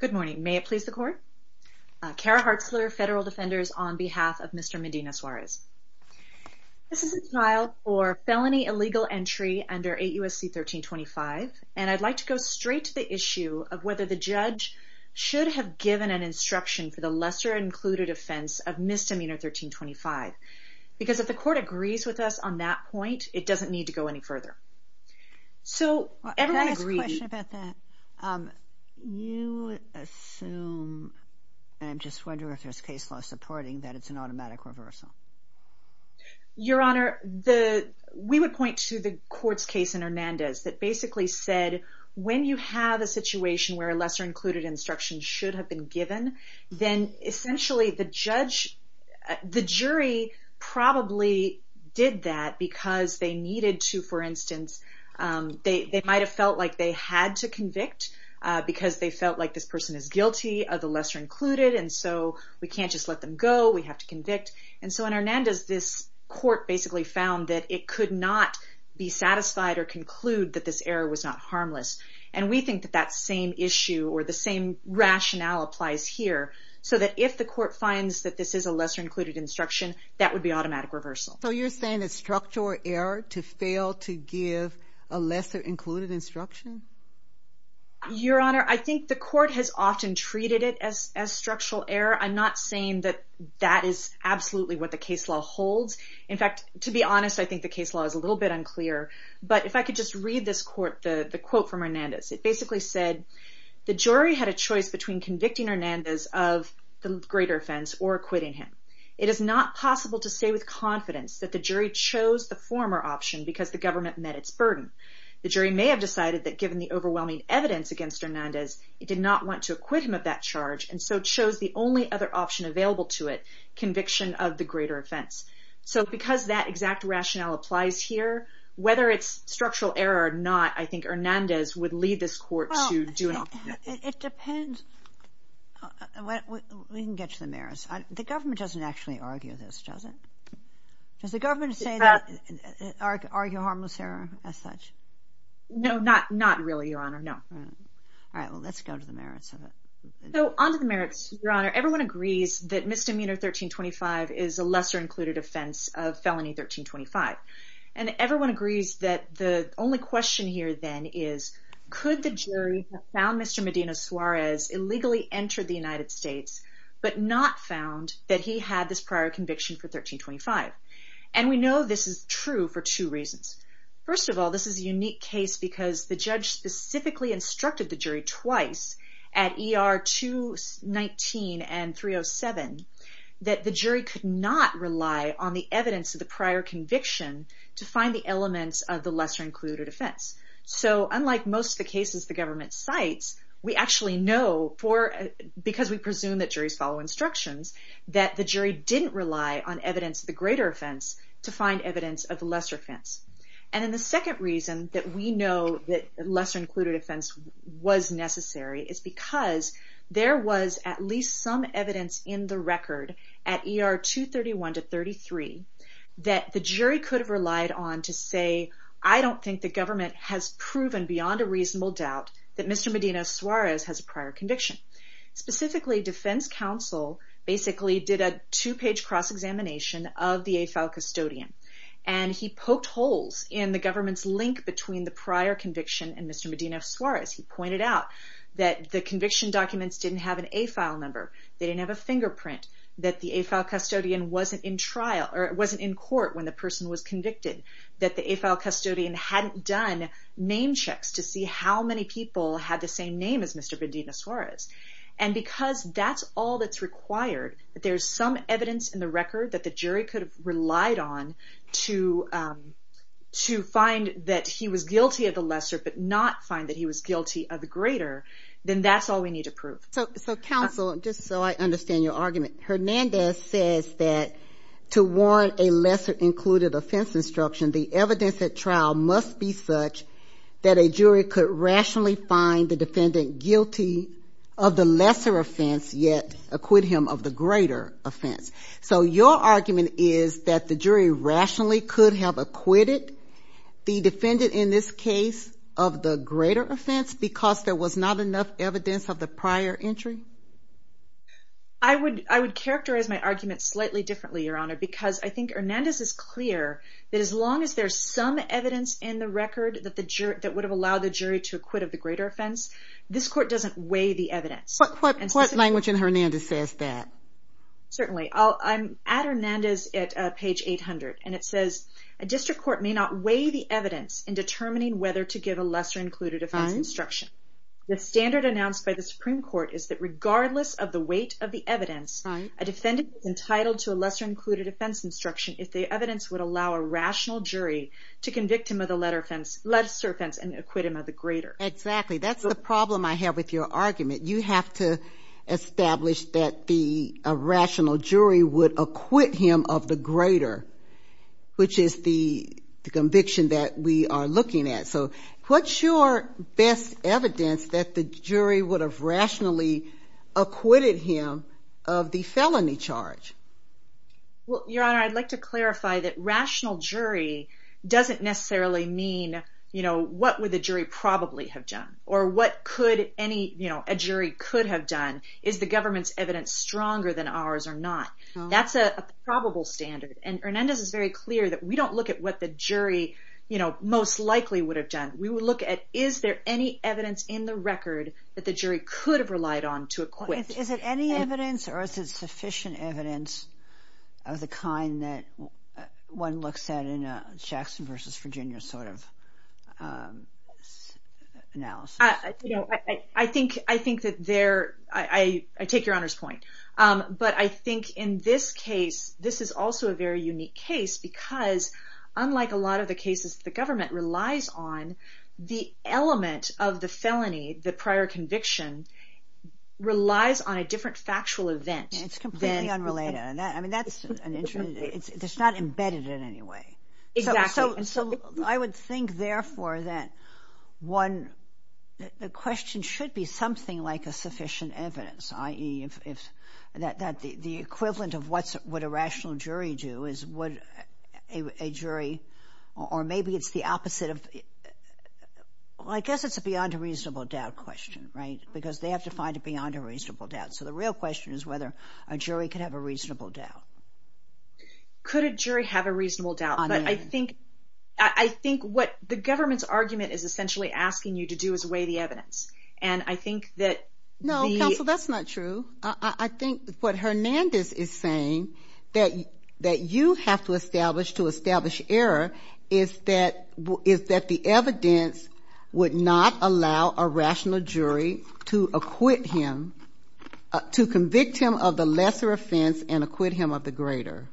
Good morning. May it please the Court. Kara Hartzler, Federal Defenders, on behalf of Mr. Medina-Suarez. This is a trial for felony illegal entry under 8 U.S.C. 1325, and I'd like to go straight to the issue of whether the judge should have given an instruction for the lesser included offense of Misdemeanor 1325, because if the Court agrees with us on that point, it doesn't need to go any further. So, everyone agrees. I have a question about that. You assume, and I'm just wondering if there's case law supporting that it's an automatic reversal. Your Honor, we would point to the court's case in Hernandez that basically said when you have a situation where a lesser included instruction should have been given, then essentially the judge, the jury probably did that because they needed to, for instance, they might have felt like they had to convict, because they felt like this person is guilty of the lesser included, and so we can't just let them go, we have to convict. And so in Hernandez, this court basically found that it could not be satisfied or conclude that this error was not harmless. And we think that that same issue, or the same rationale applies here, so that if the court finds that this is a lesser included instruction, that would be automatic reversal. So you're saying it's structural error to fail to give a lesser included instruction? Your Honor, I think the court has often treated it as structural error. I'm not saying that that is absolutely what the case law holds. In fact, to be honest, I think the case law is a little bit unclear. But if I could just read this court, the quote from Hernandez, it basically said, the jury had a choice between convicting Hernandez of the greater offense or acquitting him. It is not possible to say with confidence that the jury chose the former option because the government met its burden. The jury may have decided that given the overwhelming evidence against Hernandez, it did not want to acquit him of that charge, and so chose the only other option available to it, conviction of the greater offense. So because that exact rationale applies here, whether it's structural error or not, I think we can read this court to do it. It depends. We can get to the merits. The government doesn't actually argue this, does it? Does the government argue harmless error as such? No, not really, Your Honor, no. All right, well let's go to the merits of it. So on to the merits, Your Honor. Everyone agrees that misdemeanor 1325 is a lesser included offense of felony 1325. And everyone agrees that the only question here then is, could the jury have found Mr. Medina Suarez illegally entered the United States, but not found that he had this prior conviction for 1325? And we know this is true for two reasons. First of all, this is a unique case because the judge specifically instructed the jury twice at ER 219 and 307 that the jury could not rely on the evidence of the prior conviction to find the elements of the lesser included offense. So unlike most of the cases the government cites, we actually know, because we presume that juries follow instructions, that the jury didn't rely on evidence of the greater offense to find evidence of the lesser offense. And then the second reason that we know that lesser included offense was necessary is because there was at least some evidence in the record at ER 231 to 33 that the jury could have relied on to say, I don't think the government has proven beyond a reasonable doubt that Mr. Medina Suarez has a prior conviction. Specifically, defense counsel basically did a two-page cross-examination of the AFAL custodian and he poked holes in the government's link between the prior conviction and Mr. Medina Suarez. He pointed out that the conviction documents didn't have an AFAL number, they didn't have a fingerprint, that the AFAL custodian wasn't in court when the person was convicted, that the AFAL custodian hadn't done name checks to see how many people had the same name as Mr. Medina Suarez. And because that's all that's required, if there's some evidence in the record that the jury could have relied on to find that he was guilty of the lesser but not find that he was guilty of the greater, then that's all we need to prove. So counsel, just so I understand your argument, Hernandez says that to warrant a lesser included offense instruction, the evidence at trial must be such that a jury could rationally find the defendant guilty of the lesser offense, yet acquit him of the greater offense. So your argument is that the jury rationally could have acquitted the defendant in this case of the greater offense because there was not enough evidence of the prior entry? I would characterize my argument slightly differently, Your Honor, because I think Hernandez is clear that as long as there's some evidence in the record that would have allowed the jury to acquit of the greater offense, this court doesn't weigh the evidence. What language in Hernandez says that? Certainly. I'm at Hernandez at page 800, and it says, A district court may not weigh the evidence in determining whether to give a lesser included offense instruction. The standard announced by the Supreme Court is that regardless of the weight of the evidence, a defendant is entitled to a lesser included offense instruction if the evidence would allow a rational jury to convict him of the lesser offense and acquit him of the greater. Exactly. That's the problem I have with your argument. You have to establish that the rational jury would acquit him of the greater, which is the conviction that we are looking at. So what's your best evidence that the jury would have rationally acquitted him of the felony charge? Well, Your Honor, I'd like to clarify that rational jury doesn't necessarily mean, you know, what would the jury probably have done, or what could any, you know, a jury could have done. Is the government's evidence stronger than ours or not? That's a probable standard, and Hernandez is very clear that we don't look at what the jury, you know, most likely would have done. We would look at is there any evidence in the record that the jury could have relied on to acquit. Is it any evidence or is it sufficient evidence of the kind that one looks at in a Jackson v. Virginia sort of analysis? You know, I think that there, I take Your Honor's point, but I think in this case, this is also a very unique case because unlike a lot of the cases the government relies on, the element of the felony, the prior conviction, relies on a different factual event. It's completely unrelated. I mean, that's an interesting, it's not embedded in any way. Exactly. So I would think, therefore, that one, the question should be something like a sufficient evidence, i.e., that the equivalent of what a rational jury do is what a jury, or maybe it's the opposite of, well, I guess it's a beyond a reasonable doubt question, right, because they have to find it beyond a reasonable doubt. So the real question is whether a jury could have a reasonable doubt. Could a jury have a reasonable doubt? I mean, I think what the government's argument is essentially asking you to do is weigh the evidence, and I think that the... No, counsel, that's not true. I think what Hernandez is saying, that you have to establish to establish error, is that the evidence would not allow a rational jury to acquit him, to convict him of the lesser offense and acquit him of the greater.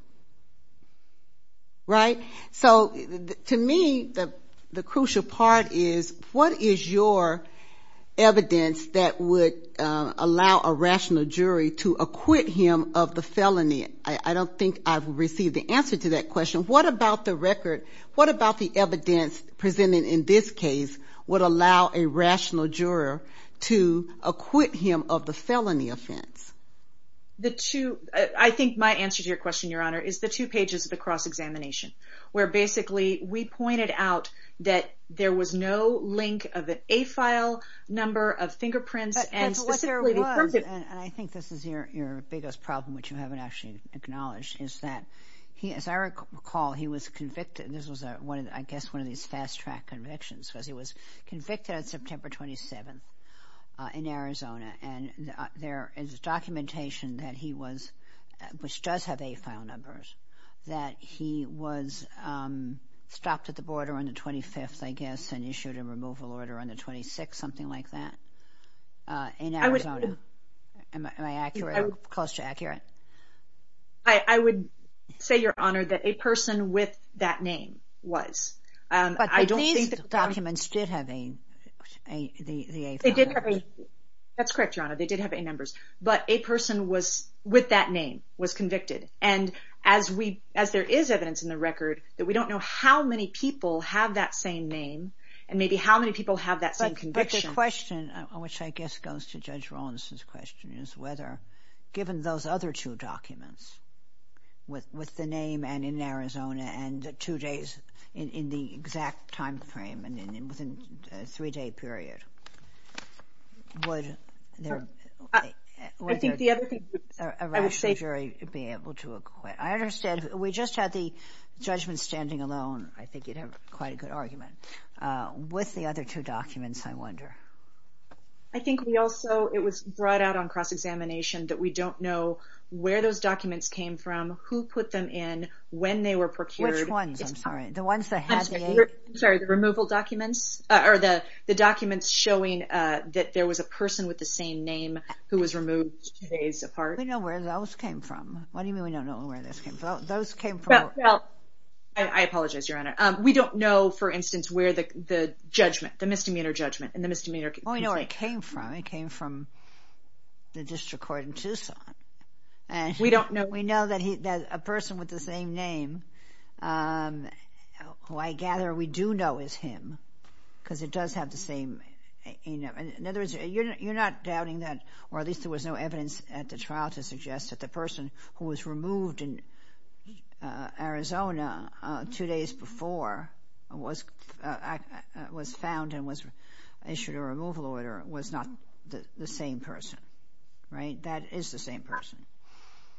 Right? So to me, the crucial part is what is your evidence that would allow a rational jury to acquit him of the felony? I don't think I've received the answer to that question. What about the record, what about the evidence presented in this case would allow a rational juror to acquit him of the felony offense? I think my answer to your question, Your Honor, is the two pages of the cross-examination, where basically we pointed out that there was no link of the A-file number of fingerprints... And I think this is your biggest problem, which you haven't actually acknowledged, is that, as I recall, he was convicted. This was, I guess, one of these fast-track convictions, because he was convicted on September 27th in Arizona, and there is documentation that he was, which does have A-file numbers, that he was stopped at the border on the 25th, I guess, and issued a removal order on the 26th, something like that, in Arizona. Am I accurate or close to accurate? I would say, Your Honor, that a person with that name was. That's correct, Your Honor, they did have A-numbers. But a person was, with that name, was convicted. And as there is evidence in the record, that we don't know how many people have that same name, and maybe how many people have that same conviction. But the question, which I guess goes to Judge Rawlinson's question, is whether, given those other two documents, with the name and in Arizona, and two days in the exact time frame, and within a three-day period, would a rational jury be able to acquit? I understand, we just had the judgment standing alone, I think you'd have quite a good argument, with the other two documents, I wonder. I think we also, it was brought out on cross-examination, that we don't know where those documents came from, who put them in, when they were procured. Which ones, I'm sorry, the ones that had the A-numbers? I'm sorry, the removal documents? Or the documents showing that there was a person with the same name, who was removed two days apart? We don't know where those came from. What do you mean we don't know where those came from? Well, I apologize, Your Honor. We don't know, for instance, where the judgment, the misdemeanor judgment, and the misdemeanor conviction. Well, we know where it came from. It came from the district court in Tucson. We don't know. We know that a person with the same name, who I gather we do know is him, because it does have the same A-number. In other words, you're not doubting that, or at least there was no evidence at the trial to suggest that the person who was removed in Arizona two days before was found and was issued a removal order was not the same person, right? That is the same person.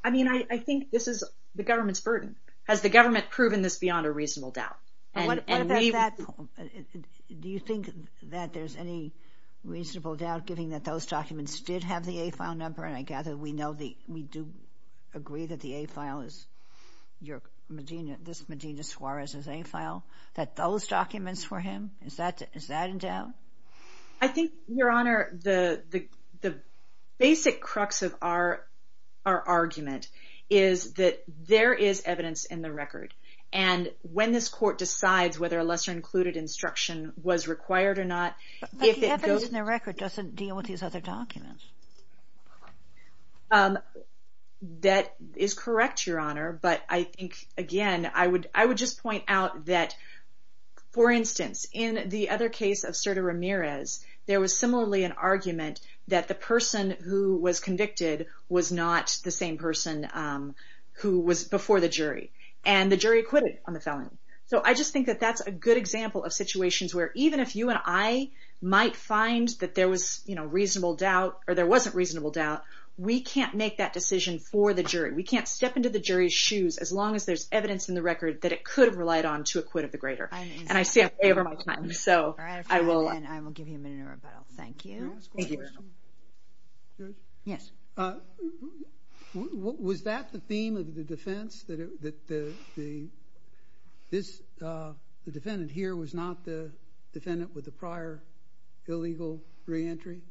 I mean, I think this is the government's burden. Has the government proven this beyond a reasonable doubt? What about that? Do you think that there's any reasonable doubt, given that those documents did have the A-file number, and I gather we do agree that the A-file is Medina Suarez's A-file, that those documents were him? Is that in doubt? I think, Your Honor, the basic crux of our argument is that there is evidence in the record, and when this court decides whether a lesser-included instruction was required or not... But the evidence in the record doesn't deal with these other documents. That is correct, Your Honor, but I think, again, I would just point out that, for instance, in the other case of Cerda Ramirez, there was similarly an argument that the person who was convicted was not the same person who was before the jury, and the jury acquitted on the felon. So I just think that that's a good example of situations where even if you and I might find that there was reasonable doubt or there wasn't reasonable doubt, we can't make that decision for the jury. We can't step into the jury's shoes, as long as there's evidence in the record that it could have relied on to acquit the greater. And I see I'm way over my time, so I will... All right, if you don't mind, I will give you a minute in rebuttal. Thank you. Can I ask one question? Yes. Was that the theme of the defense, that the defendant here was not the defendant with the prior illegal reentry?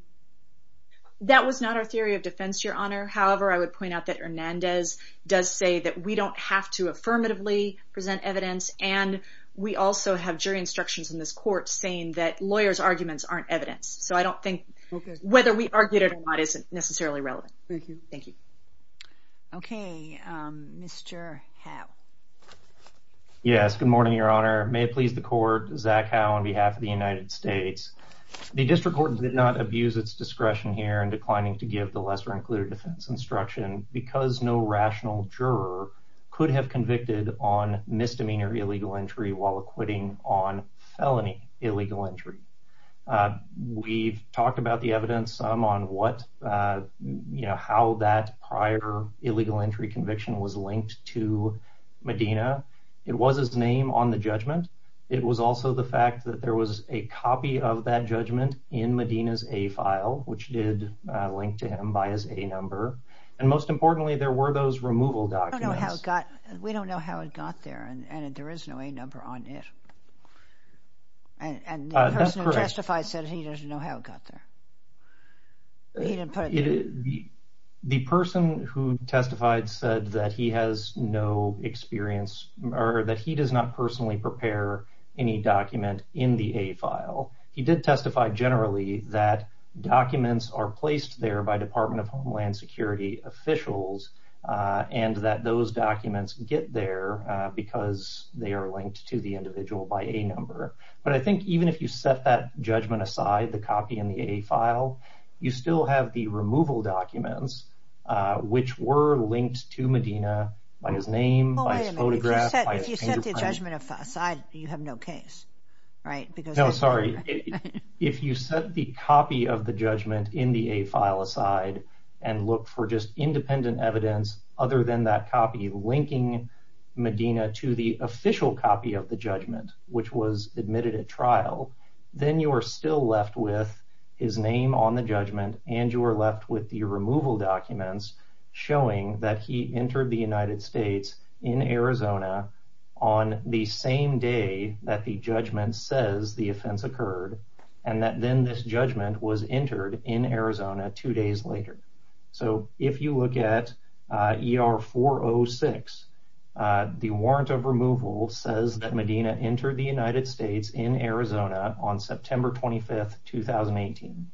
That was not our theory of defense, Your Honor. However, I would point out that Hernandez does say that we don't have to affirmatively present evidence, and we also have jury instructions in this court saying that lawyers' arguments aren't evidence. So I don't think whether we argued it or not is necessarily relevant. Thank you. Okay, Mr. Howe. Yes, good morning, Your Honor. May it please the Court, Zach Howe on behalf of the United States. The district court did not abuse its discretion here in declining to give the lesser-included defense instruction because no rational juror could have convicted on misdemeanor illegal entry while acquitting on felony illegal entry. We've talked about the evidence, some on how that prior illegal entry conviction was linked to Medina. It was his name on the judgment. It was also the fact that there was a copy of that judgment in Medina's A file, which did link to him by his A number. And most importantly, there were those removal documents. We don't know how it got there, and there is no A number on it. And the person who testified said he doesn't know how it got there. He didn't put it there. The person who testified said that he has no experience or that he does not personally prepare any document in the A file. He did testify generally that documents are placed there by Department of Homeland Security officials and that those documents get there because they are linked to the individual by A number. But I think even if you set that judgment aside, the copy in the A file, you still have the removal documents, which were linked to Medina by his name, by his photograph. Oh, wait a minute. If you set the judgment aside, you have no case, right? No, sorry. If you set the copy of the judgment in the A file aside and look for just independent evidence other than that copy linking Medina to the official copy of the judgment, which was admitted at trial, then you are still left with his name on the judgment and you are left with the removal documents showing that he entered the United States in Arizona on the same day that the judgment says the offense occurred and that then this judgment was entered in Arizona two days later. So if you look at ER 406, the warrant of removal says that Medina entered the United States in Arizona on September 25th, 2018.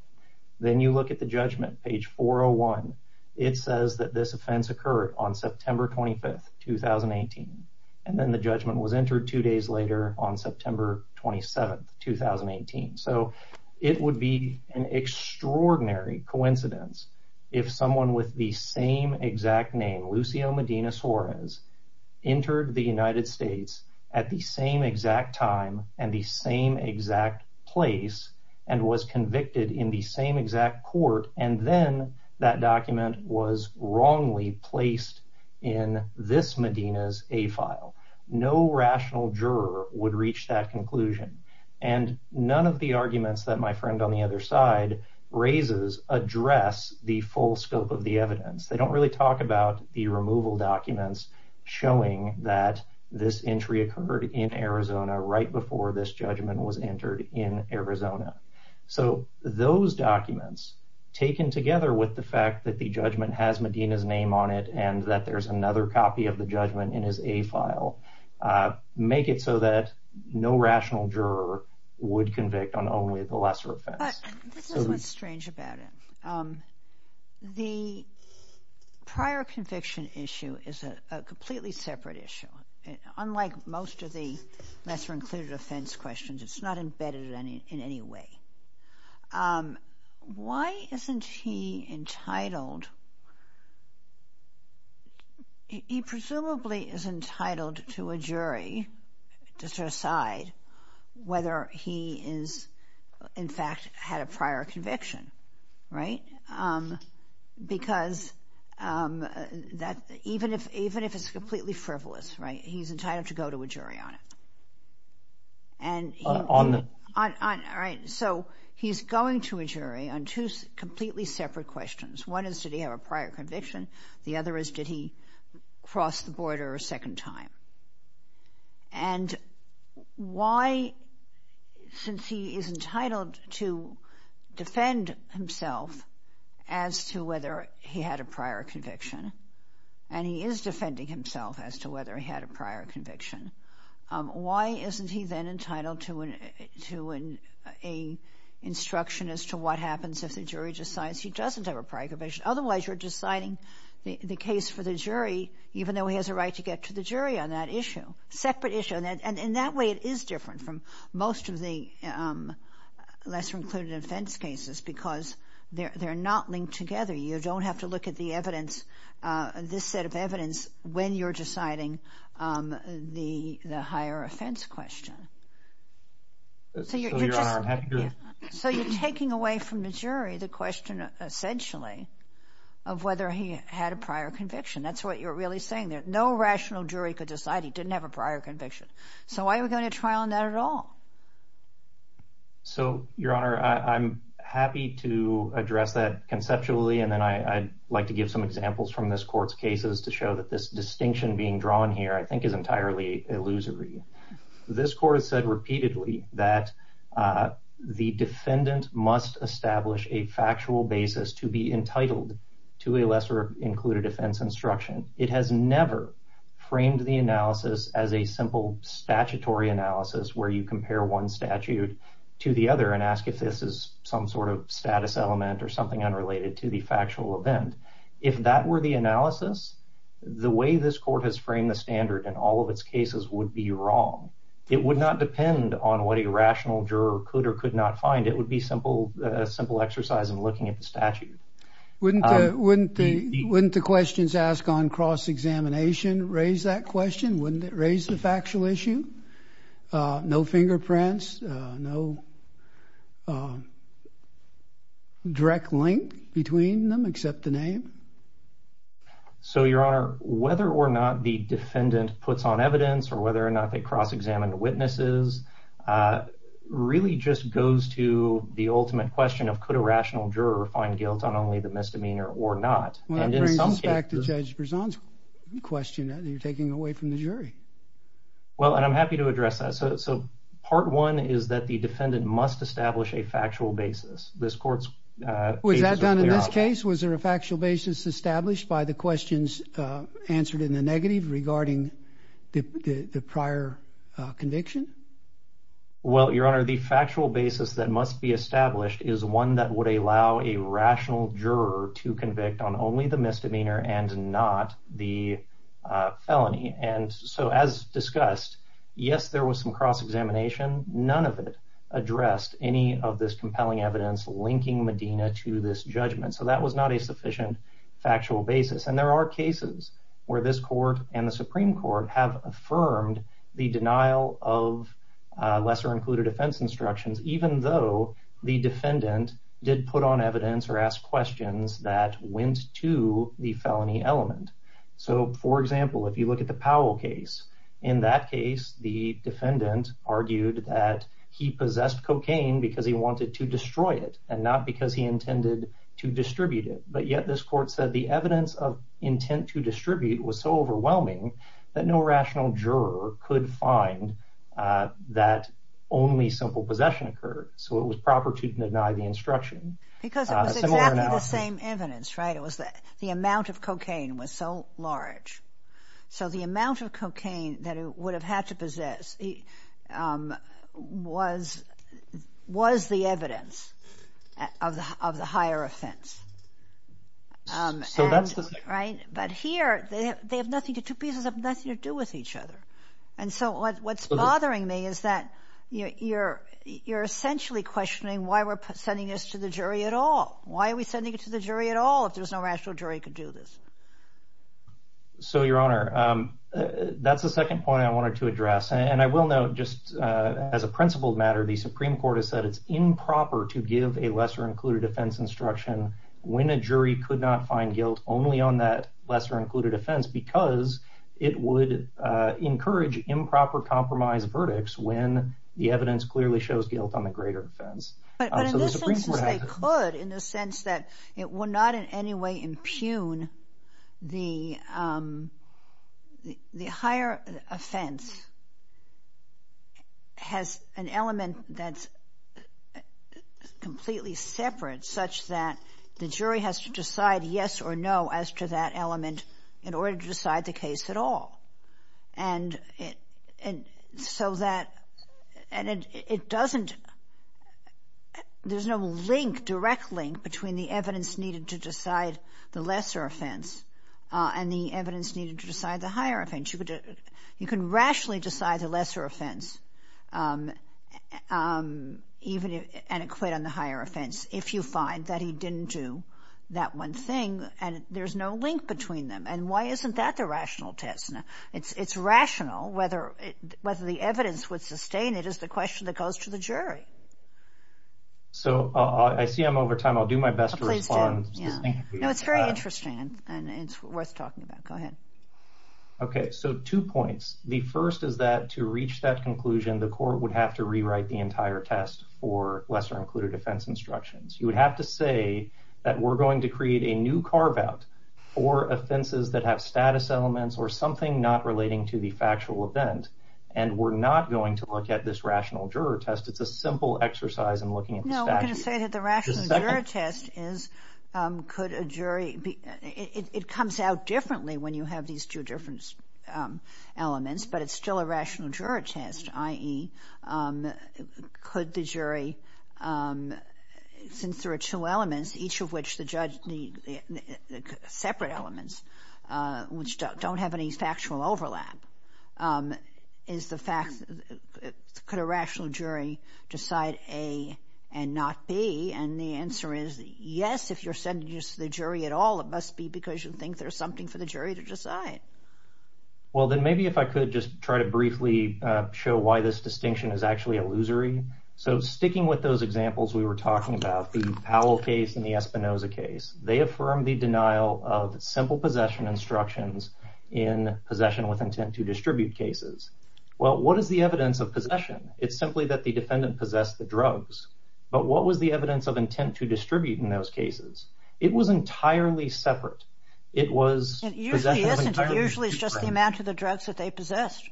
Then you look at the judgment, page 401. It says that this offense occurred on September 25th, 2018. And then the judgment was entered two days later on September 27th, 2018. So it would be an extraordinary coincidence if someone with the same exact name, Lucio Medina Suarez, entered the United States at the same exact time and the same exact place and was convicted in the same exact court and then that document was wrongly placed in this Medina's A file. No rational juror would reach that conclusion. And none of the arguments that my friend on the other side raises address the full scope of the evidence. They don't really talk about the removal documents showing that this entry occurred in Arizona right before this judgment was entered in Arizona. So those documents, taken together with the fact that the judgment has Medina's name on it and that there's another copy of the judgment in his A file, make it so that no rational juror would convict on only the lesser offense. This is what's strange about it. The prior conviction issue is a completely separate issue. Unlike most of the lesser-included offense questions, it's not embedded in any way. Why isn't he entitled? He presumably is entitled to a jury to decide whether he is in fact had a prior conviction, right? Because even if it's completely frivolous, right, he's entitled to go to a jury on it. All right. So he's going to a jury on two completely separate questions. One is, did he have a prior conviction? The other is, did he cross the border a second time? And why, since he is entitled to defend himself as to whether he had a prior conviction, and he is defending himself as to whether he had a prior conviction, why isn't he then entitled to an instruction as to what happens if the jury decides he doesn't have a prior conviction? Otherwise, you're deciding the case for the jury, even though he has a right to get to the jury on that issue. Separate issue. And in that way, it is different from most of the lesser-included offense cases because they're not linked together. You don't have to look at the evidence, this set of evidence, when you're deciding the higher offense question. So you're taking away from the jury the question, essentially, of whether he had a prior conviction. That's what you're really saying. No rational jury could decide he didn't have a prior conviction. So why are we going to a trial on that at all? So, Your Honor, I'm happy to address that conceptually, and then I'd like to give some examples from this Court's cases to show that this distinction being drawn here, I think, is entirely illusory. This Court has said repeatedly that the defendant must establish a factual basis to be entitled to a lesser-included offense instruction. It has never framed the analysis as a simple statutory analysis where you compare one statute to the other and ask if this is some sort of status element or something unrelated to the factual event. If that were the analysis, the way this Court has framed the standard in all of its cases would be wrong. It would not depend on what a rational juror could or could not find. It would be a simple exercise in looking at the statute. Wouldn't the questions asked on cross-examination raise that question? Wouldn't it raise the factual issue? No fingerprints, no direct link between them except the name? So, Your Honor, whether or not the defendant puts on evidence or whether or not they cross-examine the witnesses really just goes to the ultimate question of, could a rational juror find guilt on only the misdemeanor or not? Well, that brings us back to Judge Berzon's question that you're taking away from the jury. Well, and I'm happy to address that. So, part one is that the defendant must establish a factual basis. This Court's cases are clear on that. Was that done in this case? Was there a factual basis established by the questions answered in the negative regarding the prior conviction? Well, Your Honor, the factual basis that must be established is one that would allow a rational juror to convict on only the misdemeanor and not the felony. And so, as discussed, yes, there was some cross-examination. None of it addressed any of this compelling evidence linking Medina to this judgment. So that was not a sufficient factual basis. And there are cases where this Court and the Supreme Court have affirmed the denial of lesser-included offense instructions even though the defendant did put on evidence or ask questions that went to the felony element. So, for example, if you look at the Powell case, in that case the defendant argued that he possessed cocaine because he wanted to destroy it and not because he intended to distribute it. But yet this Court said the evidence of intent to distribute was so overwhelming that no rational juror could find that only simple possession occurred. So it was proper to deny the instruction. Because it was exactly the same evidence, right? The amount of cocaine was so large. So the amount of cocaine that he would have had to possess was the evidence of the higher offense. But here, the two pieces have nothing to do with each other. And so what's bothering me is that you're essentially questioning why we're sending this to the jury at all. Why are we sending it to the jury at all if there's no rational jury who could do this? So, Your Honor, that's the second point I wanted to address. And I will note just as a principled matter, the Supreme Court has said it's improper to give a lesser-included offense instruction when a jury could not find guilt only on that lesser-included offense because it would encourage improper compromise verdicts when the evidence clearly shows guilt on the greater offense. But in the sense that they could, in the sense that it would not in any way impugn the higher offense has an element that's completely separate such that the jury has to decide yes or no as to that element in order to decide the case at all. And so that, and it doesn't, there's no link, direct link between the evidence needed to decide the lesser offense and the evidence needed to decide the higher offense. You can rationally decide the lesser offense and acquit on the higher offense if you find that he didn't do that one thing and there's no link between them. And why isn't that the rational test? It's rational whether the evidence would sustain it is the question that goes to the jury. So I see I'm over time. I'll do my best to respond. No, it's very interesting and it's worth talking about. Go ahead. Okay, so two points. The first is that to reach that conclusion, the court would have to rewrite the entire test for lesser-included offense instructions. You would have to say that we're going to create a new carve-out for offenses that have status elements or something not relating to the factual event and we're not going to look at this rational juror test. It's a simple exercise in looking at the statute. No, I'm going to say that the rational juror test is could a jury, it comes out differently when you have these two different elements, but it's still a rational juror test, i.e., could the jury, since there are two elements, each of which the separate elements which don't have any factual overlap, could a rational jury decide A and not B? And the answer is yes, if you're sending this to the jury at all, it must be because you think there's something for the jury to decide. Well, then maybe if I could just try to briefly show why this distinction is actually illusory. So sticking with those examples we were talking about, the Powell case and the Espinoza case, they affirm the denial of simple possession instructions in possession with intent to distribute cases. Well, what is the evidence of possession? It's simply that the defendant possessed the drugs. But what was the evidence of intent to distribute in those cases? It was entirely separate. It usually isn't. It usually is just the amount of the drugs that they possessed.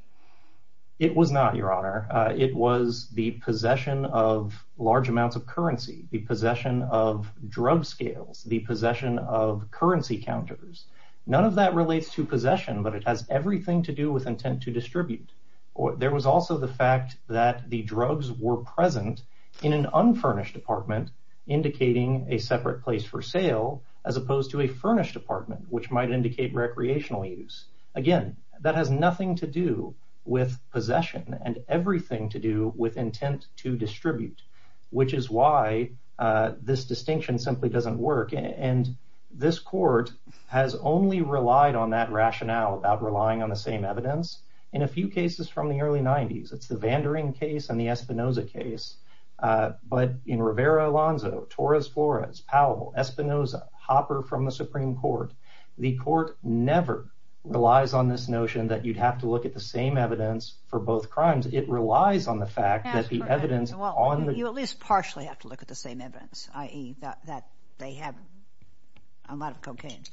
It was not, Your Honor. It was the possession of large amounts of currency, the possession of drug scales, the possession of currency counters. None of that relates to possession, but it has everything to do with intent to distribute. There was also the fact that the drugs were present in an unfurnished apartment, indicating a separate place for sale as opposed to a furnished apartment, which might indicate recreational use. Again, that has nothing to do with possession and everything to do with intent to distribute, which is why this distinction simply doesn't work. And this court has only relied on that rationale about relying on the same evidence. In a few cases from the early 90s, it's the Vandering case and the Espinoza case. But in Rivera-Alonzo, Torres-Flores, Powell, Espinoza, Hopper from the Supreme Court, the court never relies on this notion that you'd have to look at the same evidence for both crimes. It relies on the fact that the evidence on the... You at least partially have to look at the same evidence, i.e. that they have a lot of cocaine.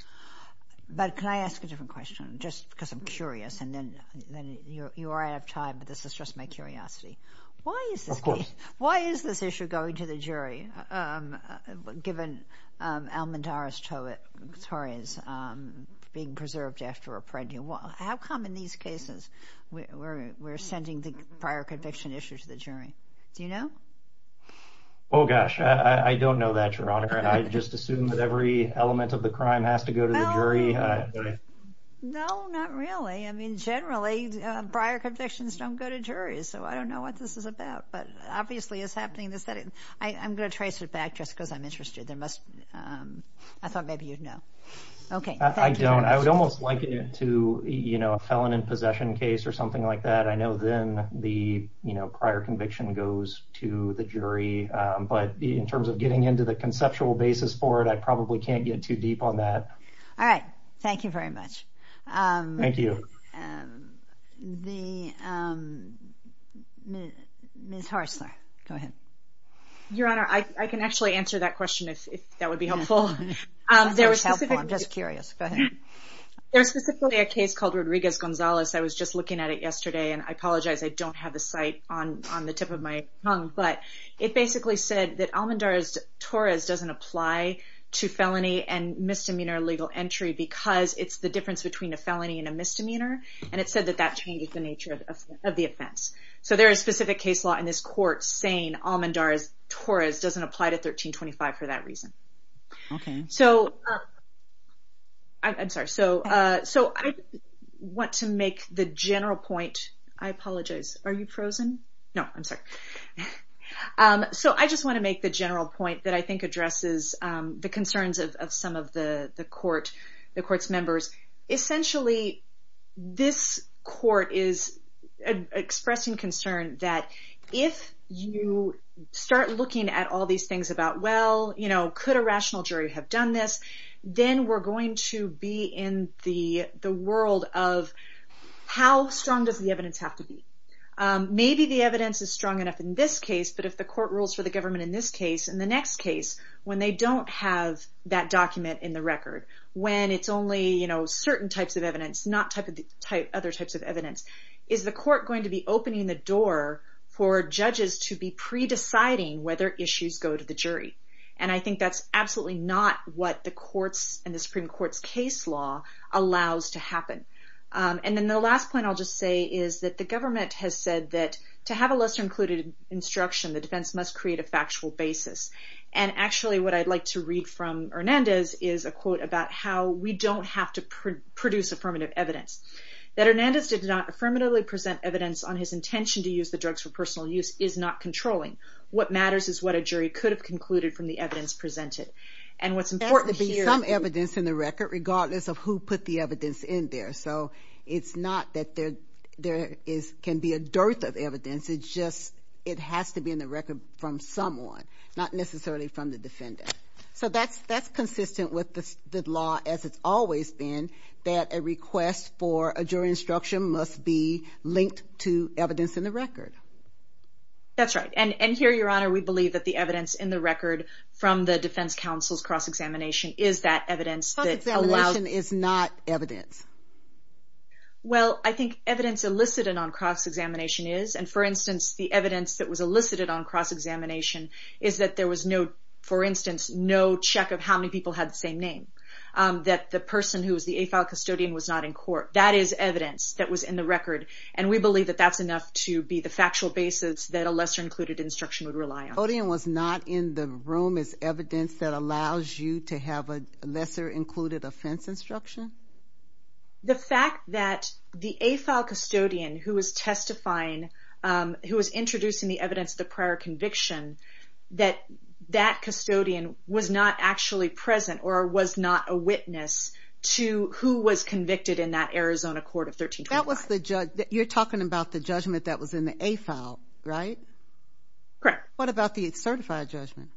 But can I ask a different question, just because I'm curious, and then you're out of time, but this is just my curiosity. Why is this case... Of course. Why is this issue going to the jury, given Almendarez-Torres being preserved after a pregnancy? How come in these cases we're sending the prior conviction issue to the jury? Do you know? Oh, gosh, I don't know that, Your Honor. I just assume that every element of the crime has to go to the jury. I mean, generally, prior convictions don't go to juries, so I don't know what this is about, but obviously it's happening in the setting. I'm going to trace it back just because I'm interested. I thought maybe you'd know. Okay. I don't. I would almost liken it to a felon in possession case or something like that. I know then the prior conviction goes to the jury, but in terms of getting into the conceptual basis for it, I probably can't get too deep on that. All right. Thank you very much. Thank you. Ms. Horstler, go ahead. Your Honor, I can actually answer that question if that would be helpful. I'm just curious. Go ahead. There's specifically a case called Rodriguez-Gonzalez. I was just looking at it yesterday, and I apologize. I don't have the site on the tip of my tongue, but it basically said that Almendarez-Torres doesn't apply to felony and misdemeanor legal entry because it's the difference between a felony and a misdemeanor, and it said that that changes the nature of the offense. So there is specific case law in this court saying Almendarez-Torres doesn't apply to 1325 for that reason. Okay. I'm sorry. So I want to make the general point. I apologize. Are you frozen? No, I'm sorry. So I just want to make the general point that I think addresses the concerns of some of the court's members. Essentially, this court is expressing concern that if you start looking at all these things about, well, could a rational jury have done this, then we're going to be in the world of how strong does the evidence have to be. Maybe the evidence is strong enough in this case, but if the court rules for the government in this case, in the next case when they don't have that document in the record, when it's only certain types of evidence, not other types of evidence, is the court going to be opening the door for judges to be pre-deciding whether issues go to the jury? And I think that's absolutely not what the Supreme Court's case law allows to happen. And then the last point I'll just say is that the government has said that to have a lesser-included instruction, the defense must create a factual basis. And actually what I'd like to read from Hernandez is a quote about how we don't have to produce affirmative evidence. That Hernandez did not affirmatively present evidence on his intention to use the drugs for personal use is not controlling. What matters is what a jury could have concluded from the evidence presented. And what's important here is that there has to be some evidence in the record, regardless of who put the evidence in there. So it's not that there can be a dearth of evidence. It's just it has to be in the record from someone, not necessarily from the defendant. So that's consistent with the law as it's always been, that a request for a jury instruction must be linked to evidence in the record. That's right. And here, Your Honor, we believe that the evidence in the record from the defense counsel's cross-examination is that evidence that allows The instruction is not evidence. Well, I think evidence elicited on cross-examination is. And, for instance, the evidence that was elicited on cross-examination is that there was no, for instance, no check of how many people had the same name. That the person who was the AFAL custodian was not in court. That is evidence that was in the record. And we believe that that's enough to be the factual basis that a lesser-included instruction would rely on. Custodian was not in the room is evidence that allows you to have a lesser-included offense instruction? The fact that the AFAL custodian who was testifying, who was introducing the evidence of the prior conviction, that that custodian was not actually present or was not a witness to who was convicted in that Arizona court of 1325. You're talking about the judgment that was in the AFAL, right? Correct. What about the certified judgment?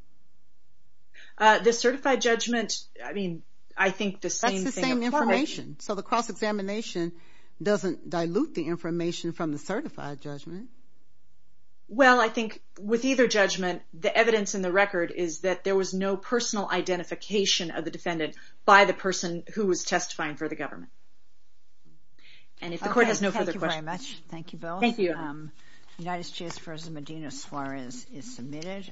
The certified judgment, I mean, I think the same thing applies. That's the same information. So the cross-examination doesn't dilute the information from the certified judgment. Well, I think with either judgment, the evidence in the record is that there was no personal identification of the defendant by the person who was testifying for the government. And if the court has no further questions... Okay, thank you very much. Thank you, Bill. Thank you. United States vs. Medina Suarez is submitted.